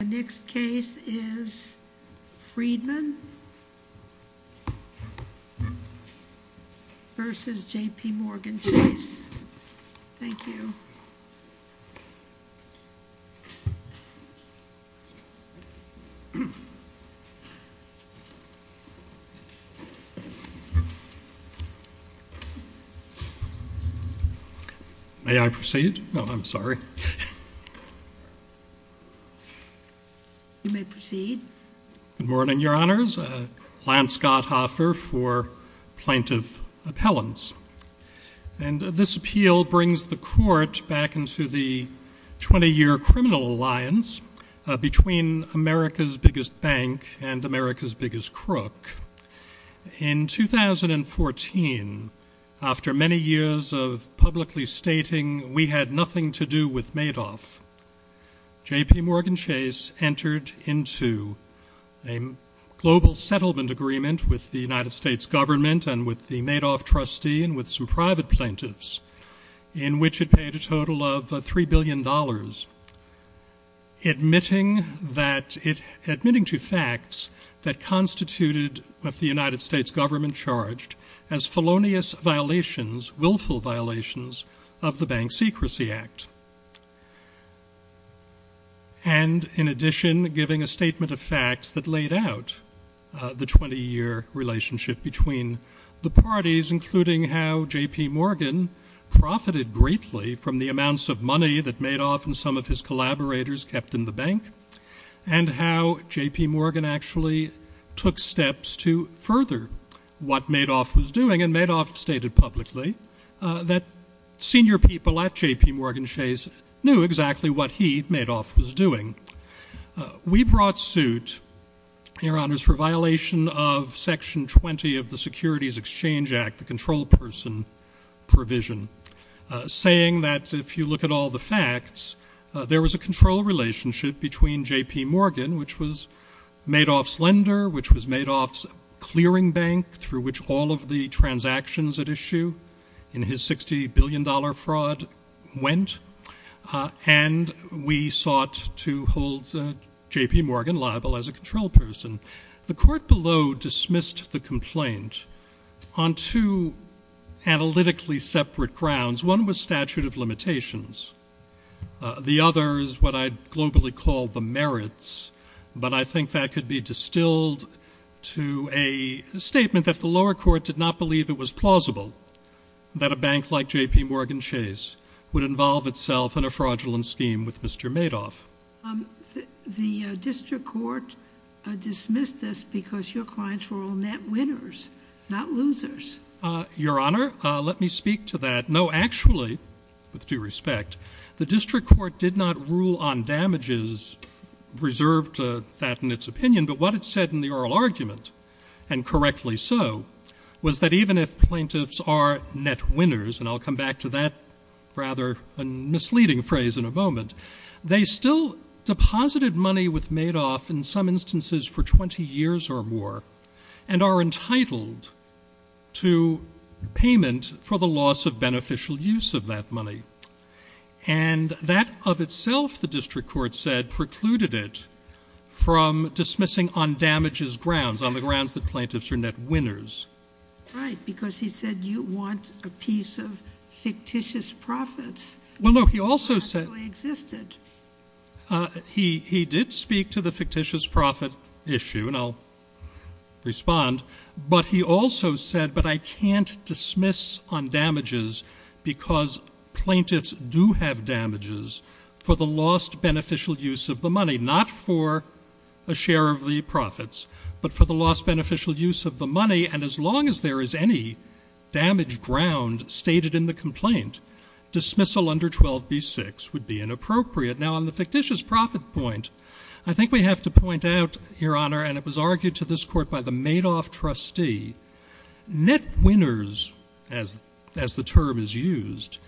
The next case is Friedman v. JPMorgan Chase. Thank you. May I proceed? No, I'm sorry. You may proceed. Good morning, Your Honors. Lance Gotthoffer for Plaintiff Appellants. This appeal brings the Court back into the 20-year criminal alliance between America's biggest bank and America's biggest crook. In 2014, after many years of publicly stating we had nothing to do with Madoff, JPMorgan Chase entered into a global settlement agreement with the United States government and with the Madoff trustee and with some private plaintiffs, in which it paid a total of $3 billion, admitting to facts that constituted what the United States government charged as felonious violations, willful violations, of the Bank Secrecy Act. And in addition, giving a statement of facts that laid out the 20-year relationship between the parties, including how JPMorgan profited greatly from the amounts of money that Madoff and some of his collaborators kept in the bank and how JPMorgan actually took steps to further what Madoff was doing. And Madoff stated publicly that senior people at JPMorgan Chase knew exactly what he, Madoff, was doing. We brought suit, Your Honors, for violation of Section 20 of the Securities Exchange Act, the control person provision, saying that if you look at all the facts, there was a control relationship between JPMorgan, which was Madoff's lender, which was Madoff's clearing bank through which all of the transactions at issue in his $60 billion fraud went, and we sought to hold JPMorgan liable as a control person. The court below dismissed the complaint on two analytically separate grounds. One was statute of limitations. The other is what I'd globally call the merits, but I think that could be distilled to a statement that the lower court did not believe it was plausible that a bank like JPMorgan Chase would involve itself in a fraudulent scheme with Mr. Madoff. The district court dismissed this because your clients were all net winners, not losers. Your Honor, let me speak to that. No, actually, with due respect, the district court did not rule on damages reserved to that in its opinion, but what it said in the oral argument, and correctly so, was that even if plaintiffs are net winners, and I'll come back to that rather misleading phrase in a moment, they still deposited money with Madoff in some instances for 20 years or more and are entitled to payment for the loss of beneficial use of that money. And that of itself, the district court said, precluded it from dismissing on damages grounds, on the grounds that plaintiffs are net winners. Right, because he said you want a piece of fictitious profits that actually existed. He did speak to the fictitious profit issue, and I'll respond, but he also said, but I can't dismiss on damages because plaintiffs do have damages for the lost beneficial use of the money, not for a share of the profits, but for the lost beneficial use of the money, and as long as there is any damaged ground stated in the complaint, dismissal under 12b-6 would be inappropriate. Now, on the fictitious profit point, I think we have to point out, Your Honor, and it was argued to this court by the Madoff trustee, net winners, as the term is used,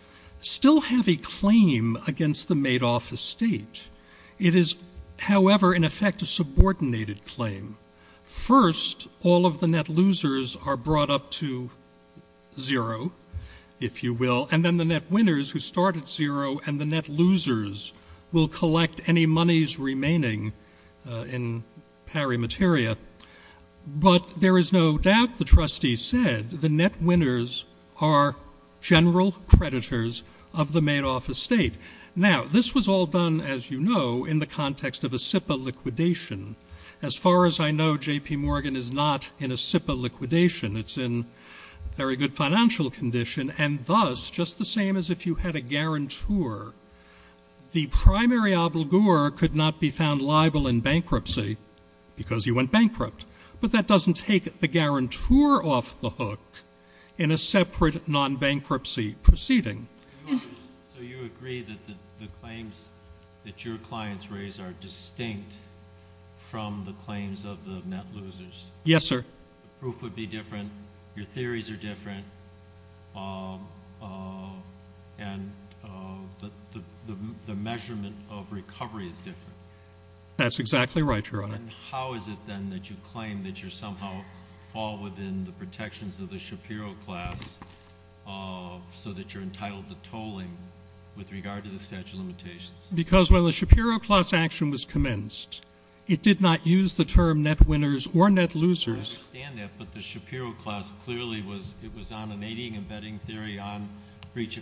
still have a claim against the Madoff estate. It is, however, in effect, a subordinated claim. First, all of the net losers are brought up to zero, if you will, and then the net winners, who start at zero, and the net losers will collect any monies remaining in pari materia. But there is no doubt, the trustee said, the net winners are general creditors of the Madoff estate. Now, this was all done, as you know, in the context of a SIPA liquidation. As far as I know, J.P. Morgan is not in a SIPA liquidation. It's in very good financial condition, and thus, just the same as if you had a guarantor, the primary obligor could not be found liable in bankruptcy because he went bankrupt, but that doesn't take the guarantor off the hook in a separate non-bankruptcy proceeding. So you agree that the claims that your clients raise are distinct from the claims of the net losers? Yes, sir. The proof would be different, your theories are different, and the measurement of recovery is different. That's exactly right, Your Honor. How is it, then, that you claim that you somehow fall within the protections of the Shapiro class so that you're entitled to tolling with regard to the statute of limitations? Because when the Shapiro class action was commenced, it did not use the term net winners or net losers. I understand that, but the Shapiro class clearly was on an aiding and abetting theory, on theories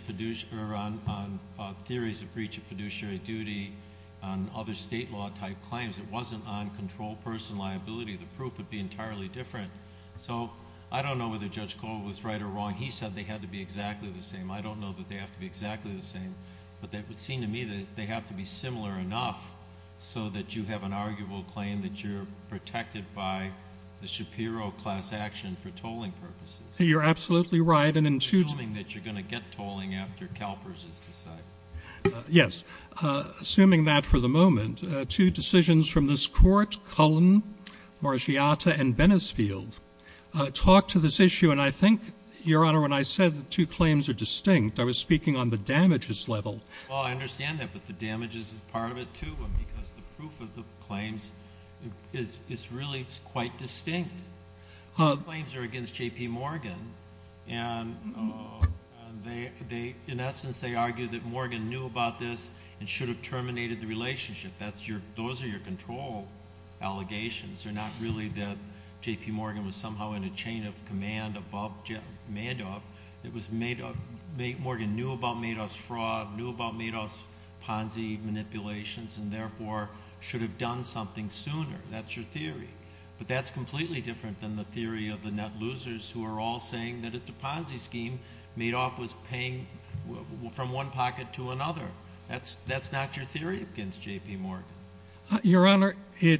of breach of fiduciary duty, on other state law-type claims. It wasn't on control person liability. The proof would be entirely different. So I don't know whether Judge Cole was right or wrong. He said they had to be exactly the same. I don't know that they have to be exactly the same. But it would seem to me that they have to be similar enough so that you have an arguable claim that you're protected by the Shapiro class action for tolling purposes. You're absolutely right. Assuming that you're going to get tolling after CalPERS is decided. Yes. Assuming that for the moment, two decisions from this Court, Cullen, Margiata, and Bennisfield, talk to this issue. And I think, Your Honor, when I said the two claims are distinct, I was speaking on the damages level. Well, I understand that, but the damages is part of it, too, because the proof of the claims is really quite distinct. The claims are against J.P. Morgan, and in essence, they argue that Morgan knew about this and should have terminated the relationship. Those are your control allegations. They're not really that J.P. Morgan was somehow in a chain of command above Madoff. Morgan knew about Madoff's fraud, knew about Madoff's Ponzi manipulations, and therefore should have done something sooner. That's your theory. But that's completely different than the theory of the net losers who are all saying that it's a Ponzi scheme. Madoff was paying from one pocket to another. That's not your theory against J.P. Morgan. Your Honor, the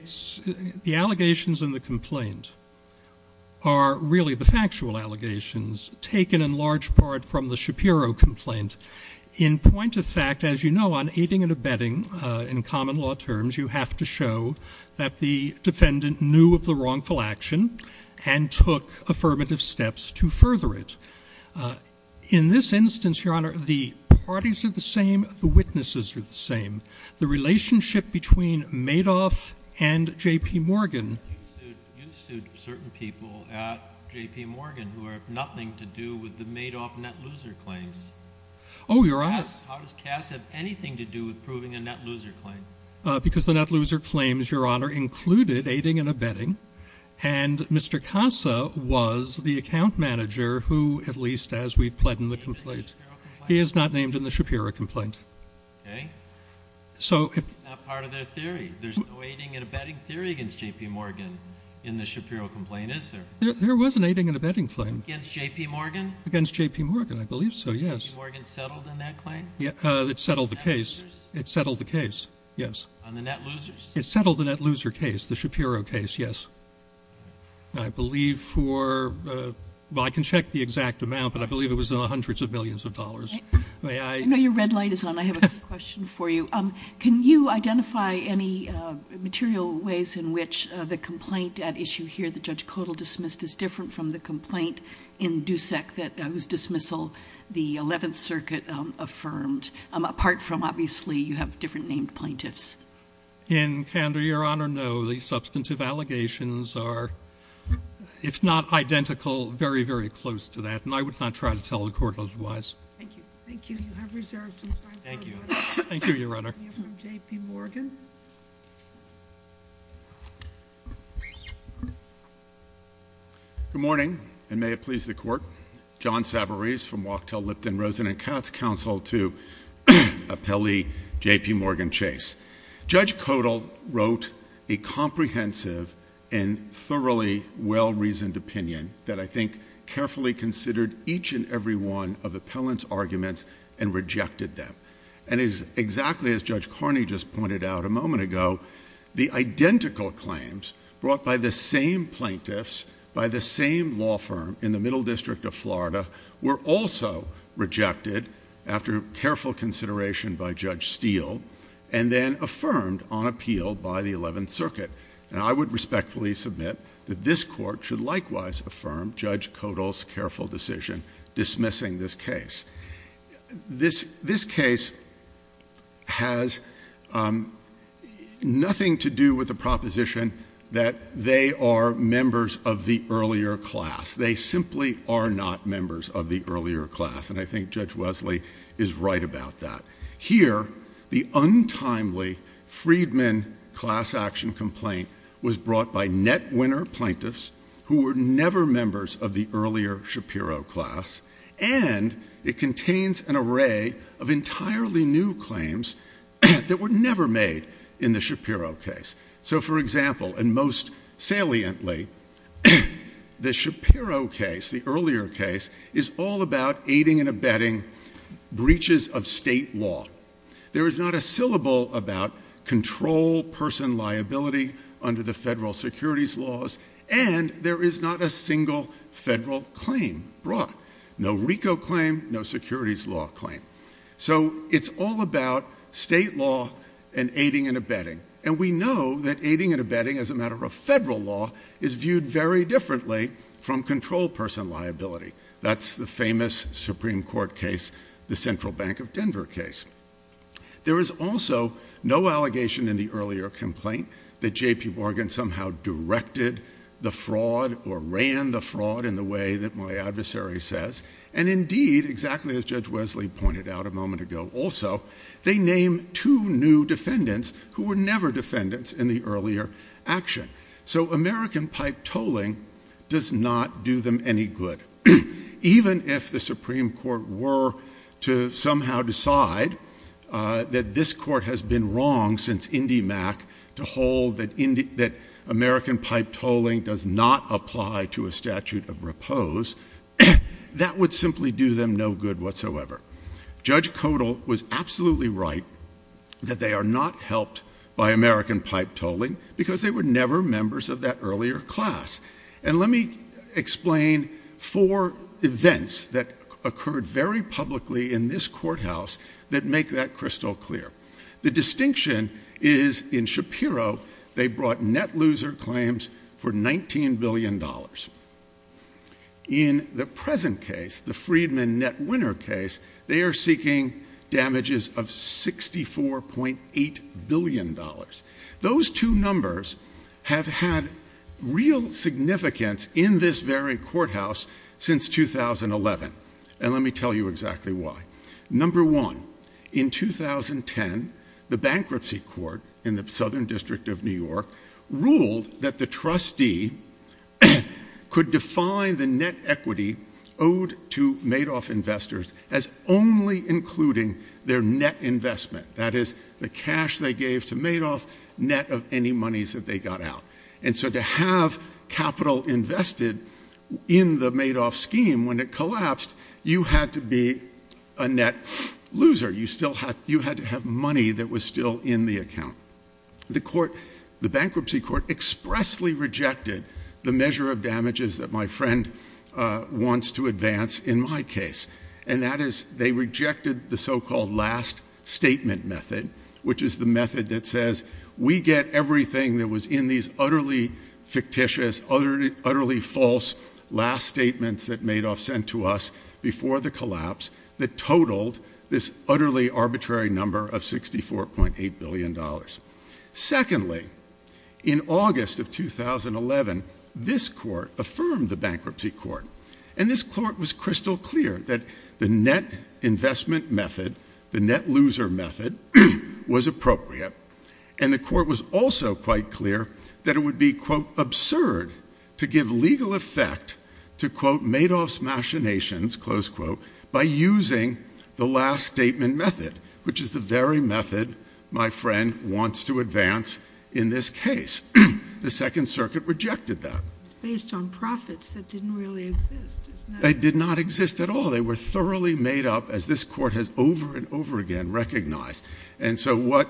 allegations in the complaint are really the factual allegations taken in large part from the Shapiro complaint. In point of fact, as you know, on aiding and abetting in common law terms, you have to show that the defendant knew of the wrongful action and took affirmative steps to further it. In this instance, Your Honor, the parties are the same, the witnesses are the same. The relationship between Madoff and J.P. Morgan. You sued certain people at J.P. Morgan who have nothing to do with the Madoff net loser claims. Oh, Your Honor. How does CASA have anything to do with proving a net loser claim? Because the net loser claims, Your Honor, included aiding and abetting, and Mr. CASA was the account manager who, at least as we've pled in the complaint. He is not named in the Shapiro complaint. Okay. That's not part of their theory. There's no aiding and abetting theory against J.P. Morgan in the Shapiro complaint, is there? There was an aiding and abetting claim. Against J.P. Morgan? Against J.P. Morgan. I believe so, yes. J.P. Morgan settled on that claim? It settled the case. On the net losers? It settled the case, yes. On the net losers? It settled the net loser case, the Shapiro case, yes. I believe for, well, I can check the exact amount, but I believe it was hundreds of millions of dollars. May I? I know your red light is on. I have a quick question for you. Can you identify any material ways in which the complaint at issue here that Judge Codall dismissed is different from the complaint in DUSEC whose dismissal the 11th Circuit affirmed, apart from, obviously, you have different named plaintiffs? In Canberra, Your Honor, no. The substantive allegations are, if not identical, very, very close to that, and I would not try to tell the Court otherwise. Thank you. Thank you. You have reserved some time for your question. Thank you. Thank you, Your Honor. We have from J.P. Morgan. Good morning, and may it please the Court. John Savarese from Wachtell, Lipton, Rosen, and Katz Counsel to appellee J.P. Morgan Chase. Judge Codall wrote a comprehensive and thoroughly well-reasoned opinion that I think carefully considered each and every one of the appellant's arguments and rejected them. And exactly as Judge Carney just pointed out a moment ago, the identical claims brought by the same plaintiffs, by the same law firm in the Middle District of Florida, were also rejected after careful consideration by Judge Steele and then affirmed on appeal by the 11th Circuit. And I would respectfully submit that this Court should likewise affirm Judge Codall's careful decision dismissing this case. This case has nothing to do with the proposition that they are members of the earlier class. They simply are not members of the earlier class, and I think Judge Wesley is right about that. Here, the untimely Friedman class action complaint was brought by net winner plaintiffs who were never members of the earlier Shapiro class, and it contains an array of entirely new claims that were never made in the Shapiro case. So, for example, and most saliently, the Shapiro case, the earlier case, is all about aiding and abetting breaches of state law. There is not a syllable about control person liability under the federal securities laws, and there is not a single federal claim brought. No RICO claim, no securities law claim. So it's all about state law and aiding and abetting. And we know that aiding and abetting as a matter of federal law is viewed very differently from control person liability. That's the famous Supreme Court case, the Central Bank of Denver case. There is also no allegation in the earlier complaint that J.P. Morgan somehow directed the fraud or ran the fraud in the way that my adversary says, and indeed, exactly as Judge Wesley pointed out a moment ago also, they name two new defendants who were never defendants in the earlier action. So American pipe tolling does not do them any good. Even if the Supreme Court were to somehow decide that this court has been wrong since IndyMac to hold that American pipe tolling does not apply to a statute of repose, that would simply do them no good whatsoever. Judge Kodal was absolutely right that they are not helped by American pipe tolling because they were never members of that earlier class. And let me explain four events that occurred very publicly in this courthouse that make that crystal clear. The distinction is in Shapiro, they brought net loser claims for $19 billion. In the present case, the Friedman net winner case, they are seeking damages of $64.8 billion. Those two numbers have had real significance in this very courthouse since 2011. And let me tell you exactly why. Number one, in 2010, the bankruptcy court in the Southern District of New York ruled that the trustee could define the net equity owed to Madoff investors as only including their net investment. That is the cash they gave to Madoff, net of any monies that they got out. And so to have capital invested in the Madoff scheme when it collapsed, you had to be a net loser. You had to have money that was still in the account. The bankruptcy court expressly rejected the measure of damages that my friend wants to advance in my case. And that is they rejected the so-called last statement method, which is the method that says we get everything that was in these utterly fictitious, utterly false last statements that Madoff sent to us before the collapse that totaled this utterly arbitrary number of $64.8 billion. Secondly, in August of 2011, this court affirmed the bankruptcy court. And this court was crystal clear that the net investment method, the net loser method, was appropriate. And the court was also quite clear that it would be, quote, absurd to give legal effect to, quote, Madoff's machinations, close quote, by using the last statement method, which is the very method my friend wants to advance in this case. The Second Circuit rejected that. It's based on profits that didn't really exist, isn't it? They did not exist at all. They were thoroughly made up, as this court has over and over again recognized. And so what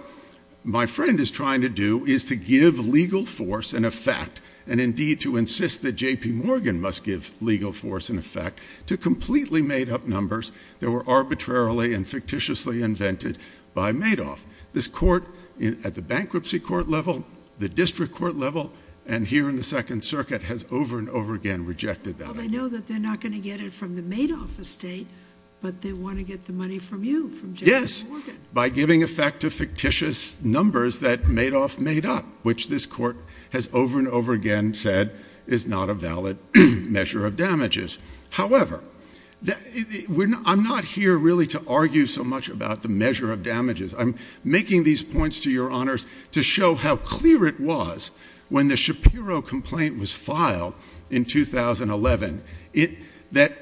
my friend is trying to do is to give legal force and effect, and indeed to insist that J.P. Morgan must give legal force and effect, to completely made up numbers that were arbitrarily and fictitiously invented by Madoff. This court at the bankruptcy court level, the district court level, and here in the Second Circuit has over and over again rejected that. I know that they're not going to get it from the Madoff estate, but they want to get the money from you, from J.P. Morgan. Yes, by giving effect to fictitious numbers that Madoff made up, which this court has over and over again said is not a valid measure of damages. However, I'm not here really to argue so much about the measure of damages. I'm making these points to your honors to show how clear it was when the Shapiro complaint was filed in 2011, that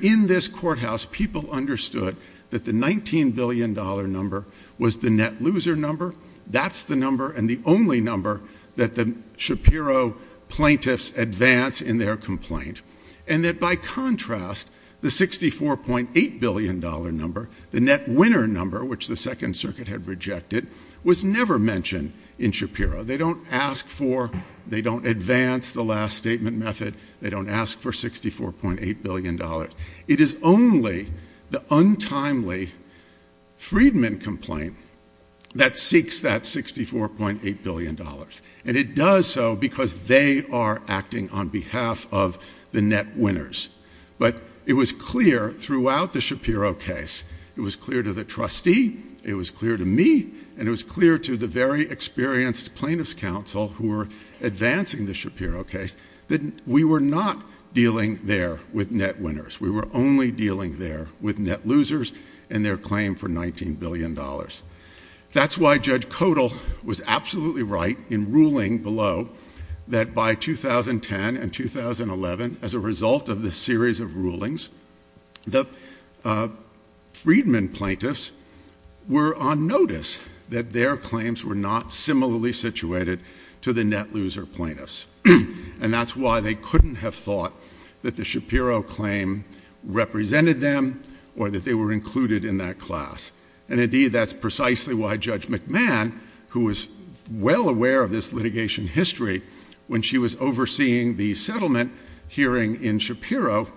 in this courthouse people understood that the $19 billion number was the net loser number. That's the number and the only number that the Shapiro plaintiffs advance in their complaint. And that by contrast, the $64.8 billion number, the net winner number, which the Second Circuit had rejected, was never mentioned in Shapiro. They don't ask for, they don't advance the last statement method. They don't ask for $64.8 billion. It is only the untimely Friedman complaint that seeks that $64.8 billion. And it does so because they are acting on behalf of the net winners. But it was clear throughout the Shapiro case, it was clear to the trustee, it was clear to me, and it was clear to the very experienced plaintiffs' counsel who were advancing the Shapiro case, that we were not dealing there with net winners. We were only dealing there with net losers and their claim for $19 billion. That's why Judge Codal was absolutely right in ruling below that by 2010 and 2011, as a result of this series of rulings, the Friedman plaintiffs were on notice that their claims were not similarly situated to the net loser plaintiffs. And that's why they couldn't have thought that the Shapiro claim represented them or that they were included in that class. And indeed, that's precisely why Judge McMahon, who was well aware of this litigation history when she was overseeing the settlement hearing in Shapiro,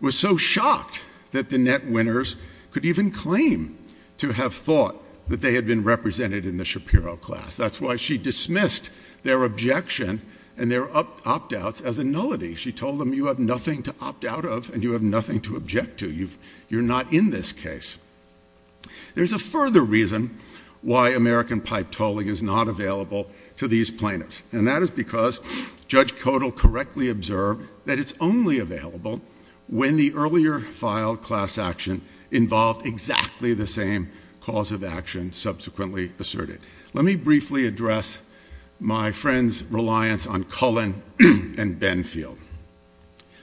was so shocked that the net winners could even claim to have thought that they had been represented in the Shapiro class. That's why she dismissed their objection and their opt-outs as a nullity. She told them, you have nothing to opt out of and you have nothing to object to. You're not in this case. There's a further reason why American pipe tolling is not available to these plaintiffs, and that is because Judge Codal correctly observed that it's only available when the earlier filed class action involved exactly the same cause of action subsequently asserted. Let me briefly address my friend's reliance on Cullen and Benfield.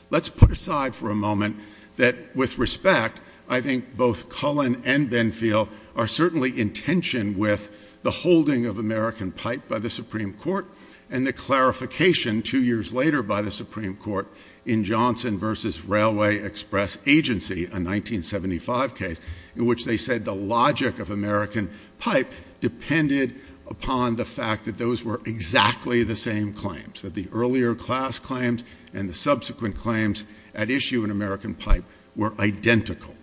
Let's put aside for a moment that, with respect, I think both Cullen and Benfield are certainly in tension with the holding of American pipe by the Supreme Court and the clarification two years later by the Supreme Court in Johnson v. Railway Express Agency, a 1975 case in which they said the logic of American pipe depended upon the fact that those were exactly the same claims, that the earlier class claims and the subsequent claims at issue in American pipe were identical.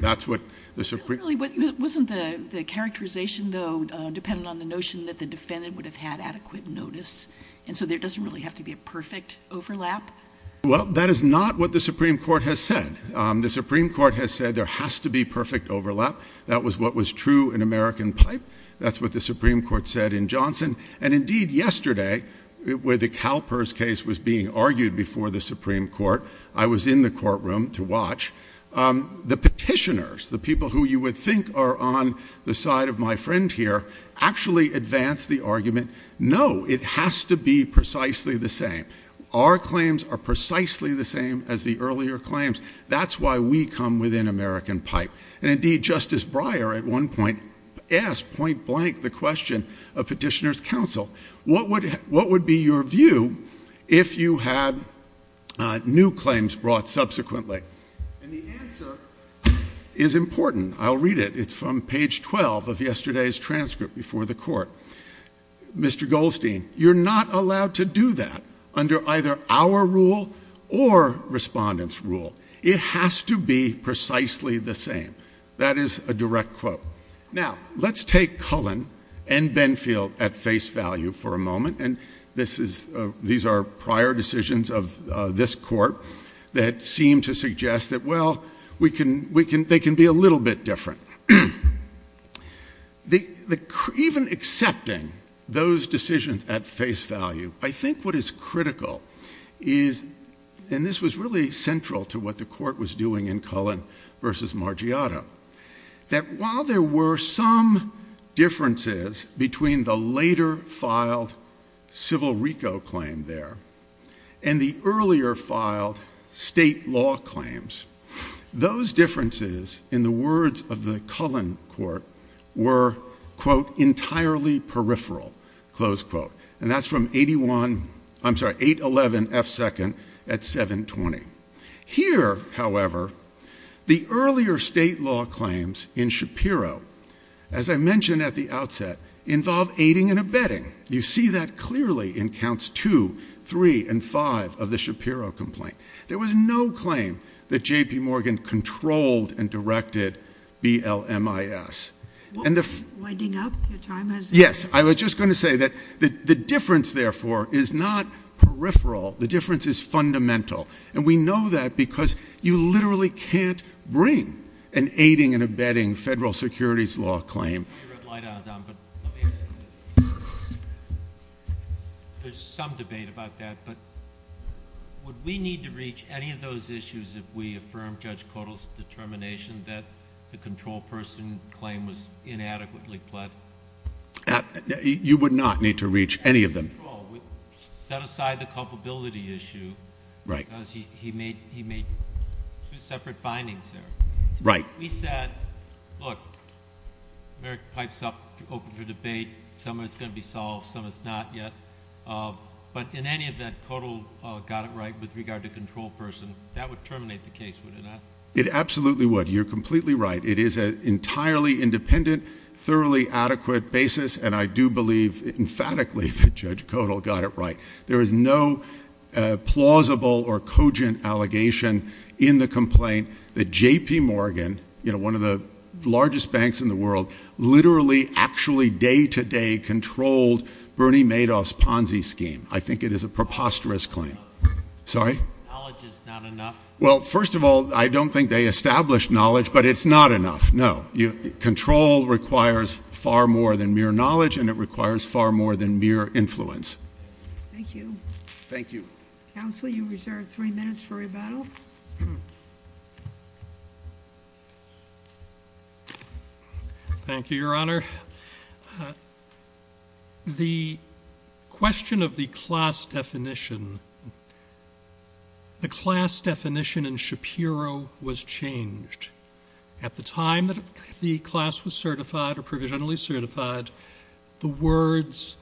That's what the Supreme Court said. Wasn't the characterization, though, dependent on the notion that the defendant would have had adequate notice, and so there doesn't really have to be a perfect overlap? Well, that is not what the Supreme Court has said. The Supreme Court has said there has to be perfect overlap. That was what was true in American pipe. That's what the Supreme Court said in Johnson. And, indeed, yesterday, where the Kalpers case was being argued before the Supreme Court, I was in the courtroom to watch. The petitioners, the people who you would think are on the side of my friend here, actually advanced the argument, no, it has to be precisely the same. Our claims are precisely the same as the earlier claims. That's why we come within American pipe. And, indeed, Justice Breyer at one point asked point blank the question of petitioners' counsel, what would be your view if you had new claims brought subsequently? And the answer is important. I'll read it. It's from page 12 of yesterday's transcript before the court. Mr. Goldstein, you're not allowed to do that under either our rule or respondents' rule. It has to be precisely the same. That is a direct quote. Now, let's take Cullen and Benfield at face value for a moment, and these are prior decisions of this court that seem to suggest that, well, they can be a little bit different. Even accepting those decisions at face value, I think what is critical is, and this was really central to what the court was doing in Cullen v. Margiotto, that while there were some differences between the later filed civil RICO claim there and the earlier filed state law claims, those differences, in the words of the Cullen court, were, quote, entirely peripheral, close quote. And that's from 811F2nd at 720. Here, however, the earlier state law claims in Shapiro, as I mentioned at the outset, involve aiding and abetting. You see that clearly in counts 2, 3, and 5 of the Shapiro complaint. There was no claim that J.P. Morgan controlled and directed BLMIS. Winding up, your time has expired. Yes, I was just going to say that the difference, therefore, is not peripheral. The difference is fundamental, and we know that because you literally can't bring an aiding and abetting federal securities law claim. Let me ask you this. There's some debate about that, but would we need to reach any of those issues if we affirmed Judge Kotel's determination that the control person claim was inadequately pled? You would not need to reach any of them. We set aside the culpability issue because he made two separate findings there. Right. We said, look, America pipes up open for debate. Some of it's going to be solved, some of it's not yet. But in any event, Kotel got it right with regard to control person. That would terminate the case, would it not? It absolutely would. You're completely right. It is an entirely independent, thoroughly adequate basis, and I do believe emphatically that Judge Kotel got it right. There is no plausible or cogent allegation in the complaint that J.P. Morgan, one of the largest banks in the world, literally actually day-to-day controlled Bernie Madoff's Ponzi scheme. I think it is a preposterous claim. Sorry? Knowledge is not enough. Well, first of all, I don't think they established knowledge, but it's not enough. No. Control requires far more than mere knowledge, and it requires far more than mere influence. Thank you. Thank you. Counsel, you reserve three minutes for rebuttal. Thank you, Your Honor. The question of the class definition, the class definition in Shapiro was changed. At the time that the class was certified or provisionally certified, the words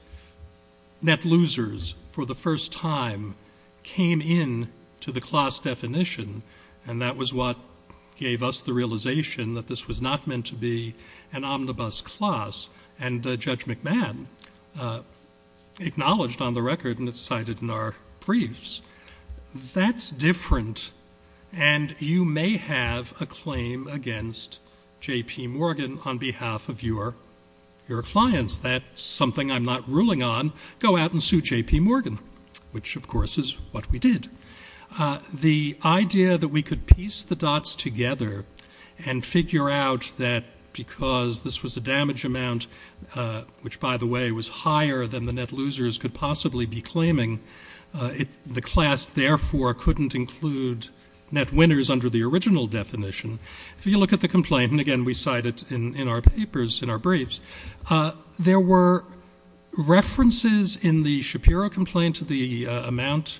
net losers for the first time came in to the class definition, and that was what gave us the realization that this was not meant to be an omnibus class, and Judge McMahon acknowledged on the record, and it's cited in our briefs. That's different, and you may have a claim against J.P. Morgan on behalf of your clients. That's something I'm not ruling on. Go out and sue J.P. Morgan, which, of course, is what we did. The idea that we could piece the dots together and figure out that because this was a damage amount, which, by the way, was higher than the net losers could possibly be claiming, the class, therefore, couldn't include net winners under the original definition. If you look at the complaint, and, again, we cite it in our papers, in our briefs, there were references in the Shapiro complaint to the amount,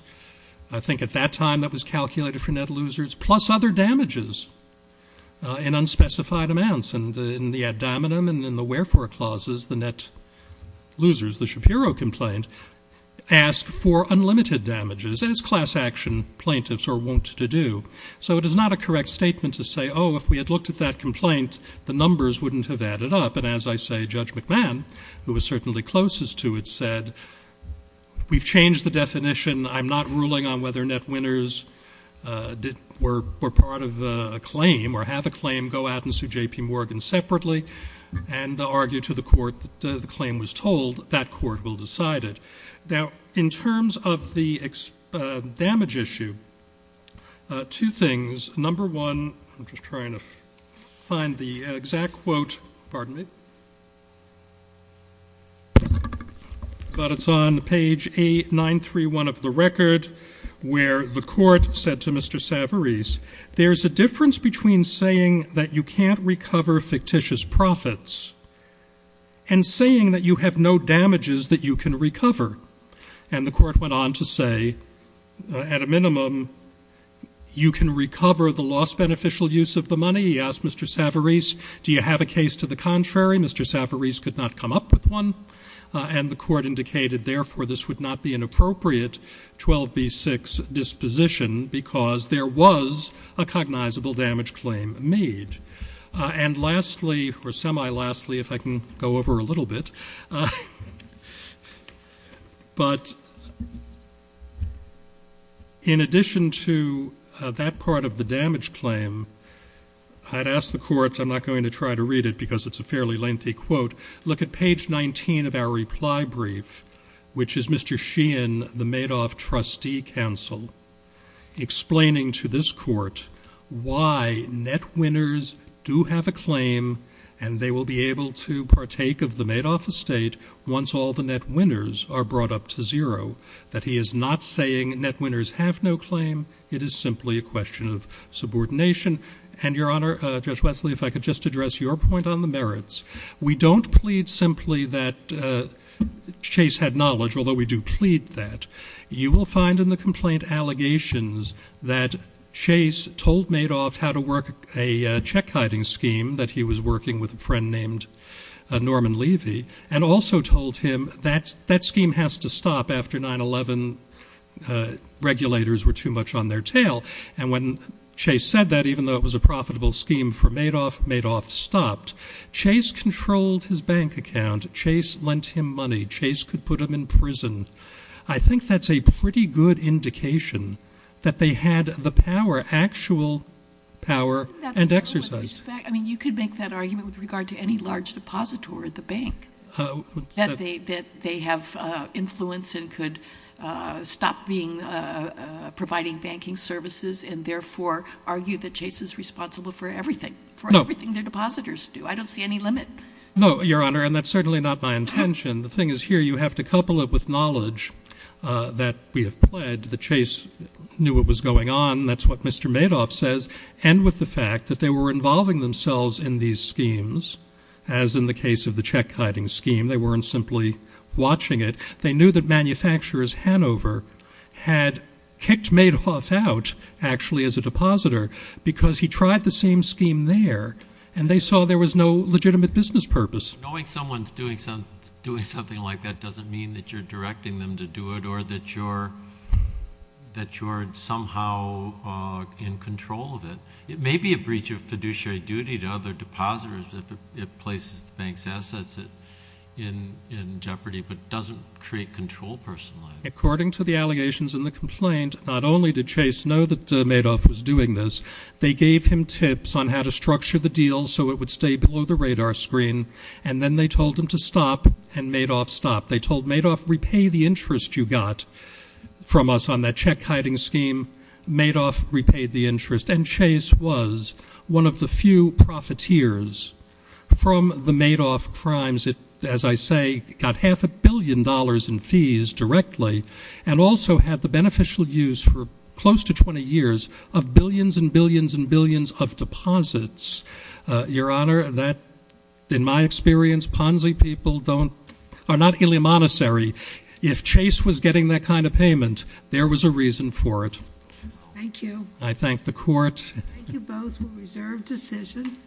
I think at that time, that was calculated for net losers, plus other damages in unspecified amounts, and in the ad dominum and in the wherefore clauses, the net losers, the Shapiro complaint, asked for unlimited damages, as class action plaintiffs are wont to do. So it is not a correct statement to say, oh, if we had looked at that complaint, the numbers wouldn't have added up, and as I say, Judge McMahon, who was certainly closest to it, said, we've changed the definition. I'm not ruling on whether net winners were part of a claim or have a claim go out and sue J.P. Morgan separately and argue to the court that the claim was told. That court will decide it. Now, in terms of the damage issue, two things. Number one, I'm just trying to find the exact quote. Pardon me. But it's on page 8931 of the record, where the court said to Mr. Savarese, there's a difference between saying that you can't recover fictitious profits and saying that you have no damages that you can recover. And the court went on to say, at a minimum, you can recover the loss beneficial use of the money. He asked Mr. Savarese, do you have a case to the contrary? Mr. Savarese could not come up with one. And the court indicated, therefore, this would not be an appropriate 12b-6 disposition because there was a cognizable damage claim made. And lastly, or semi-lastly, if I can go over a little bit, but in addition to that part of the damage claim, I'd ask the court, I'm not going to try to read it because it's a fairly lengthy quote, look at page 19 of our reply brief, which is Mr. Sheehan, the Madoff trustee counsel, explaining to this court why net winners do have a claim and they will be able to partake of the Madoff estate once all the net winners are brought up to zero, that he is not saying net winners have no claim. It is simply a question of subordination. And, Your Honor, Judge Wesley, if I could just address your point on the merits. We don't plead simply that Chase had knowledge, although we do plead that. You will find in the complaint allegations that Chase told Madoff how to work a check-hiding scheme that he was working with a friend named Norman Levy, and also told him that that scheme has to stop after 9-11 regulators were too much on their tail. And when Chase said that, even though it was a profitable scheme for Madoff, Madoff stopped. Chase controlled his bank account. Chase lent him money. Chase could put him in prison. I think that's a pretty good indication that they had the power, actual power and exercise. I mean, you could make that argument with regard to any large depositor at the bank, that they have influence and could stop providing banking services and therefore argue that Chase is responsible for everything, for everything their depositors do. I don't see any limit. No, Your Honor, and that's certainly not my intention. The thing is here you have to couple it with knowledge that we have pled that Chase knew what was going on, and that's what Mr. Madoff says, and with the fact that they were involving themselves in these schemes, as in the case of the check-hiding scheme. They weren't simply watching it. They knew that manufacturers Hanover had kicked Madoff out actually as a depositor because he tried the same scheme there, and they saw there was no legitimate business purpose. Knowing someone's doing something like that doesn't mean that you're directing them to do it or that you're somehow in control of it. It may be a breach of fiduciary duty to other depositors if it places the bank's assets in jeopardy, but it doesn't create control personally. According to the allegations in the complaint, not only did Chase know that Madoff was doing this, they gave him tips on how to structure the deal so it would stay below the radar screen, and then they told him to stop, and Madoff stopped. They told Madoff, repay the interest you got from us on that check-hiding scheme. Madoff repaid the interest, and Chase was one of the few profiteers from the Madoff crimes. It, as I say, got half a billion dollars in fees directly and also had the beneficial use for close to 20 years of billions and billions and billions of deposits. Your Honor, that, in my experience, Ponzi people are not ill-advisory. If Chase was getting that kind of payment, there was a reason for it. Thank you. I thank the court. Thank you both. We'll reserve decision.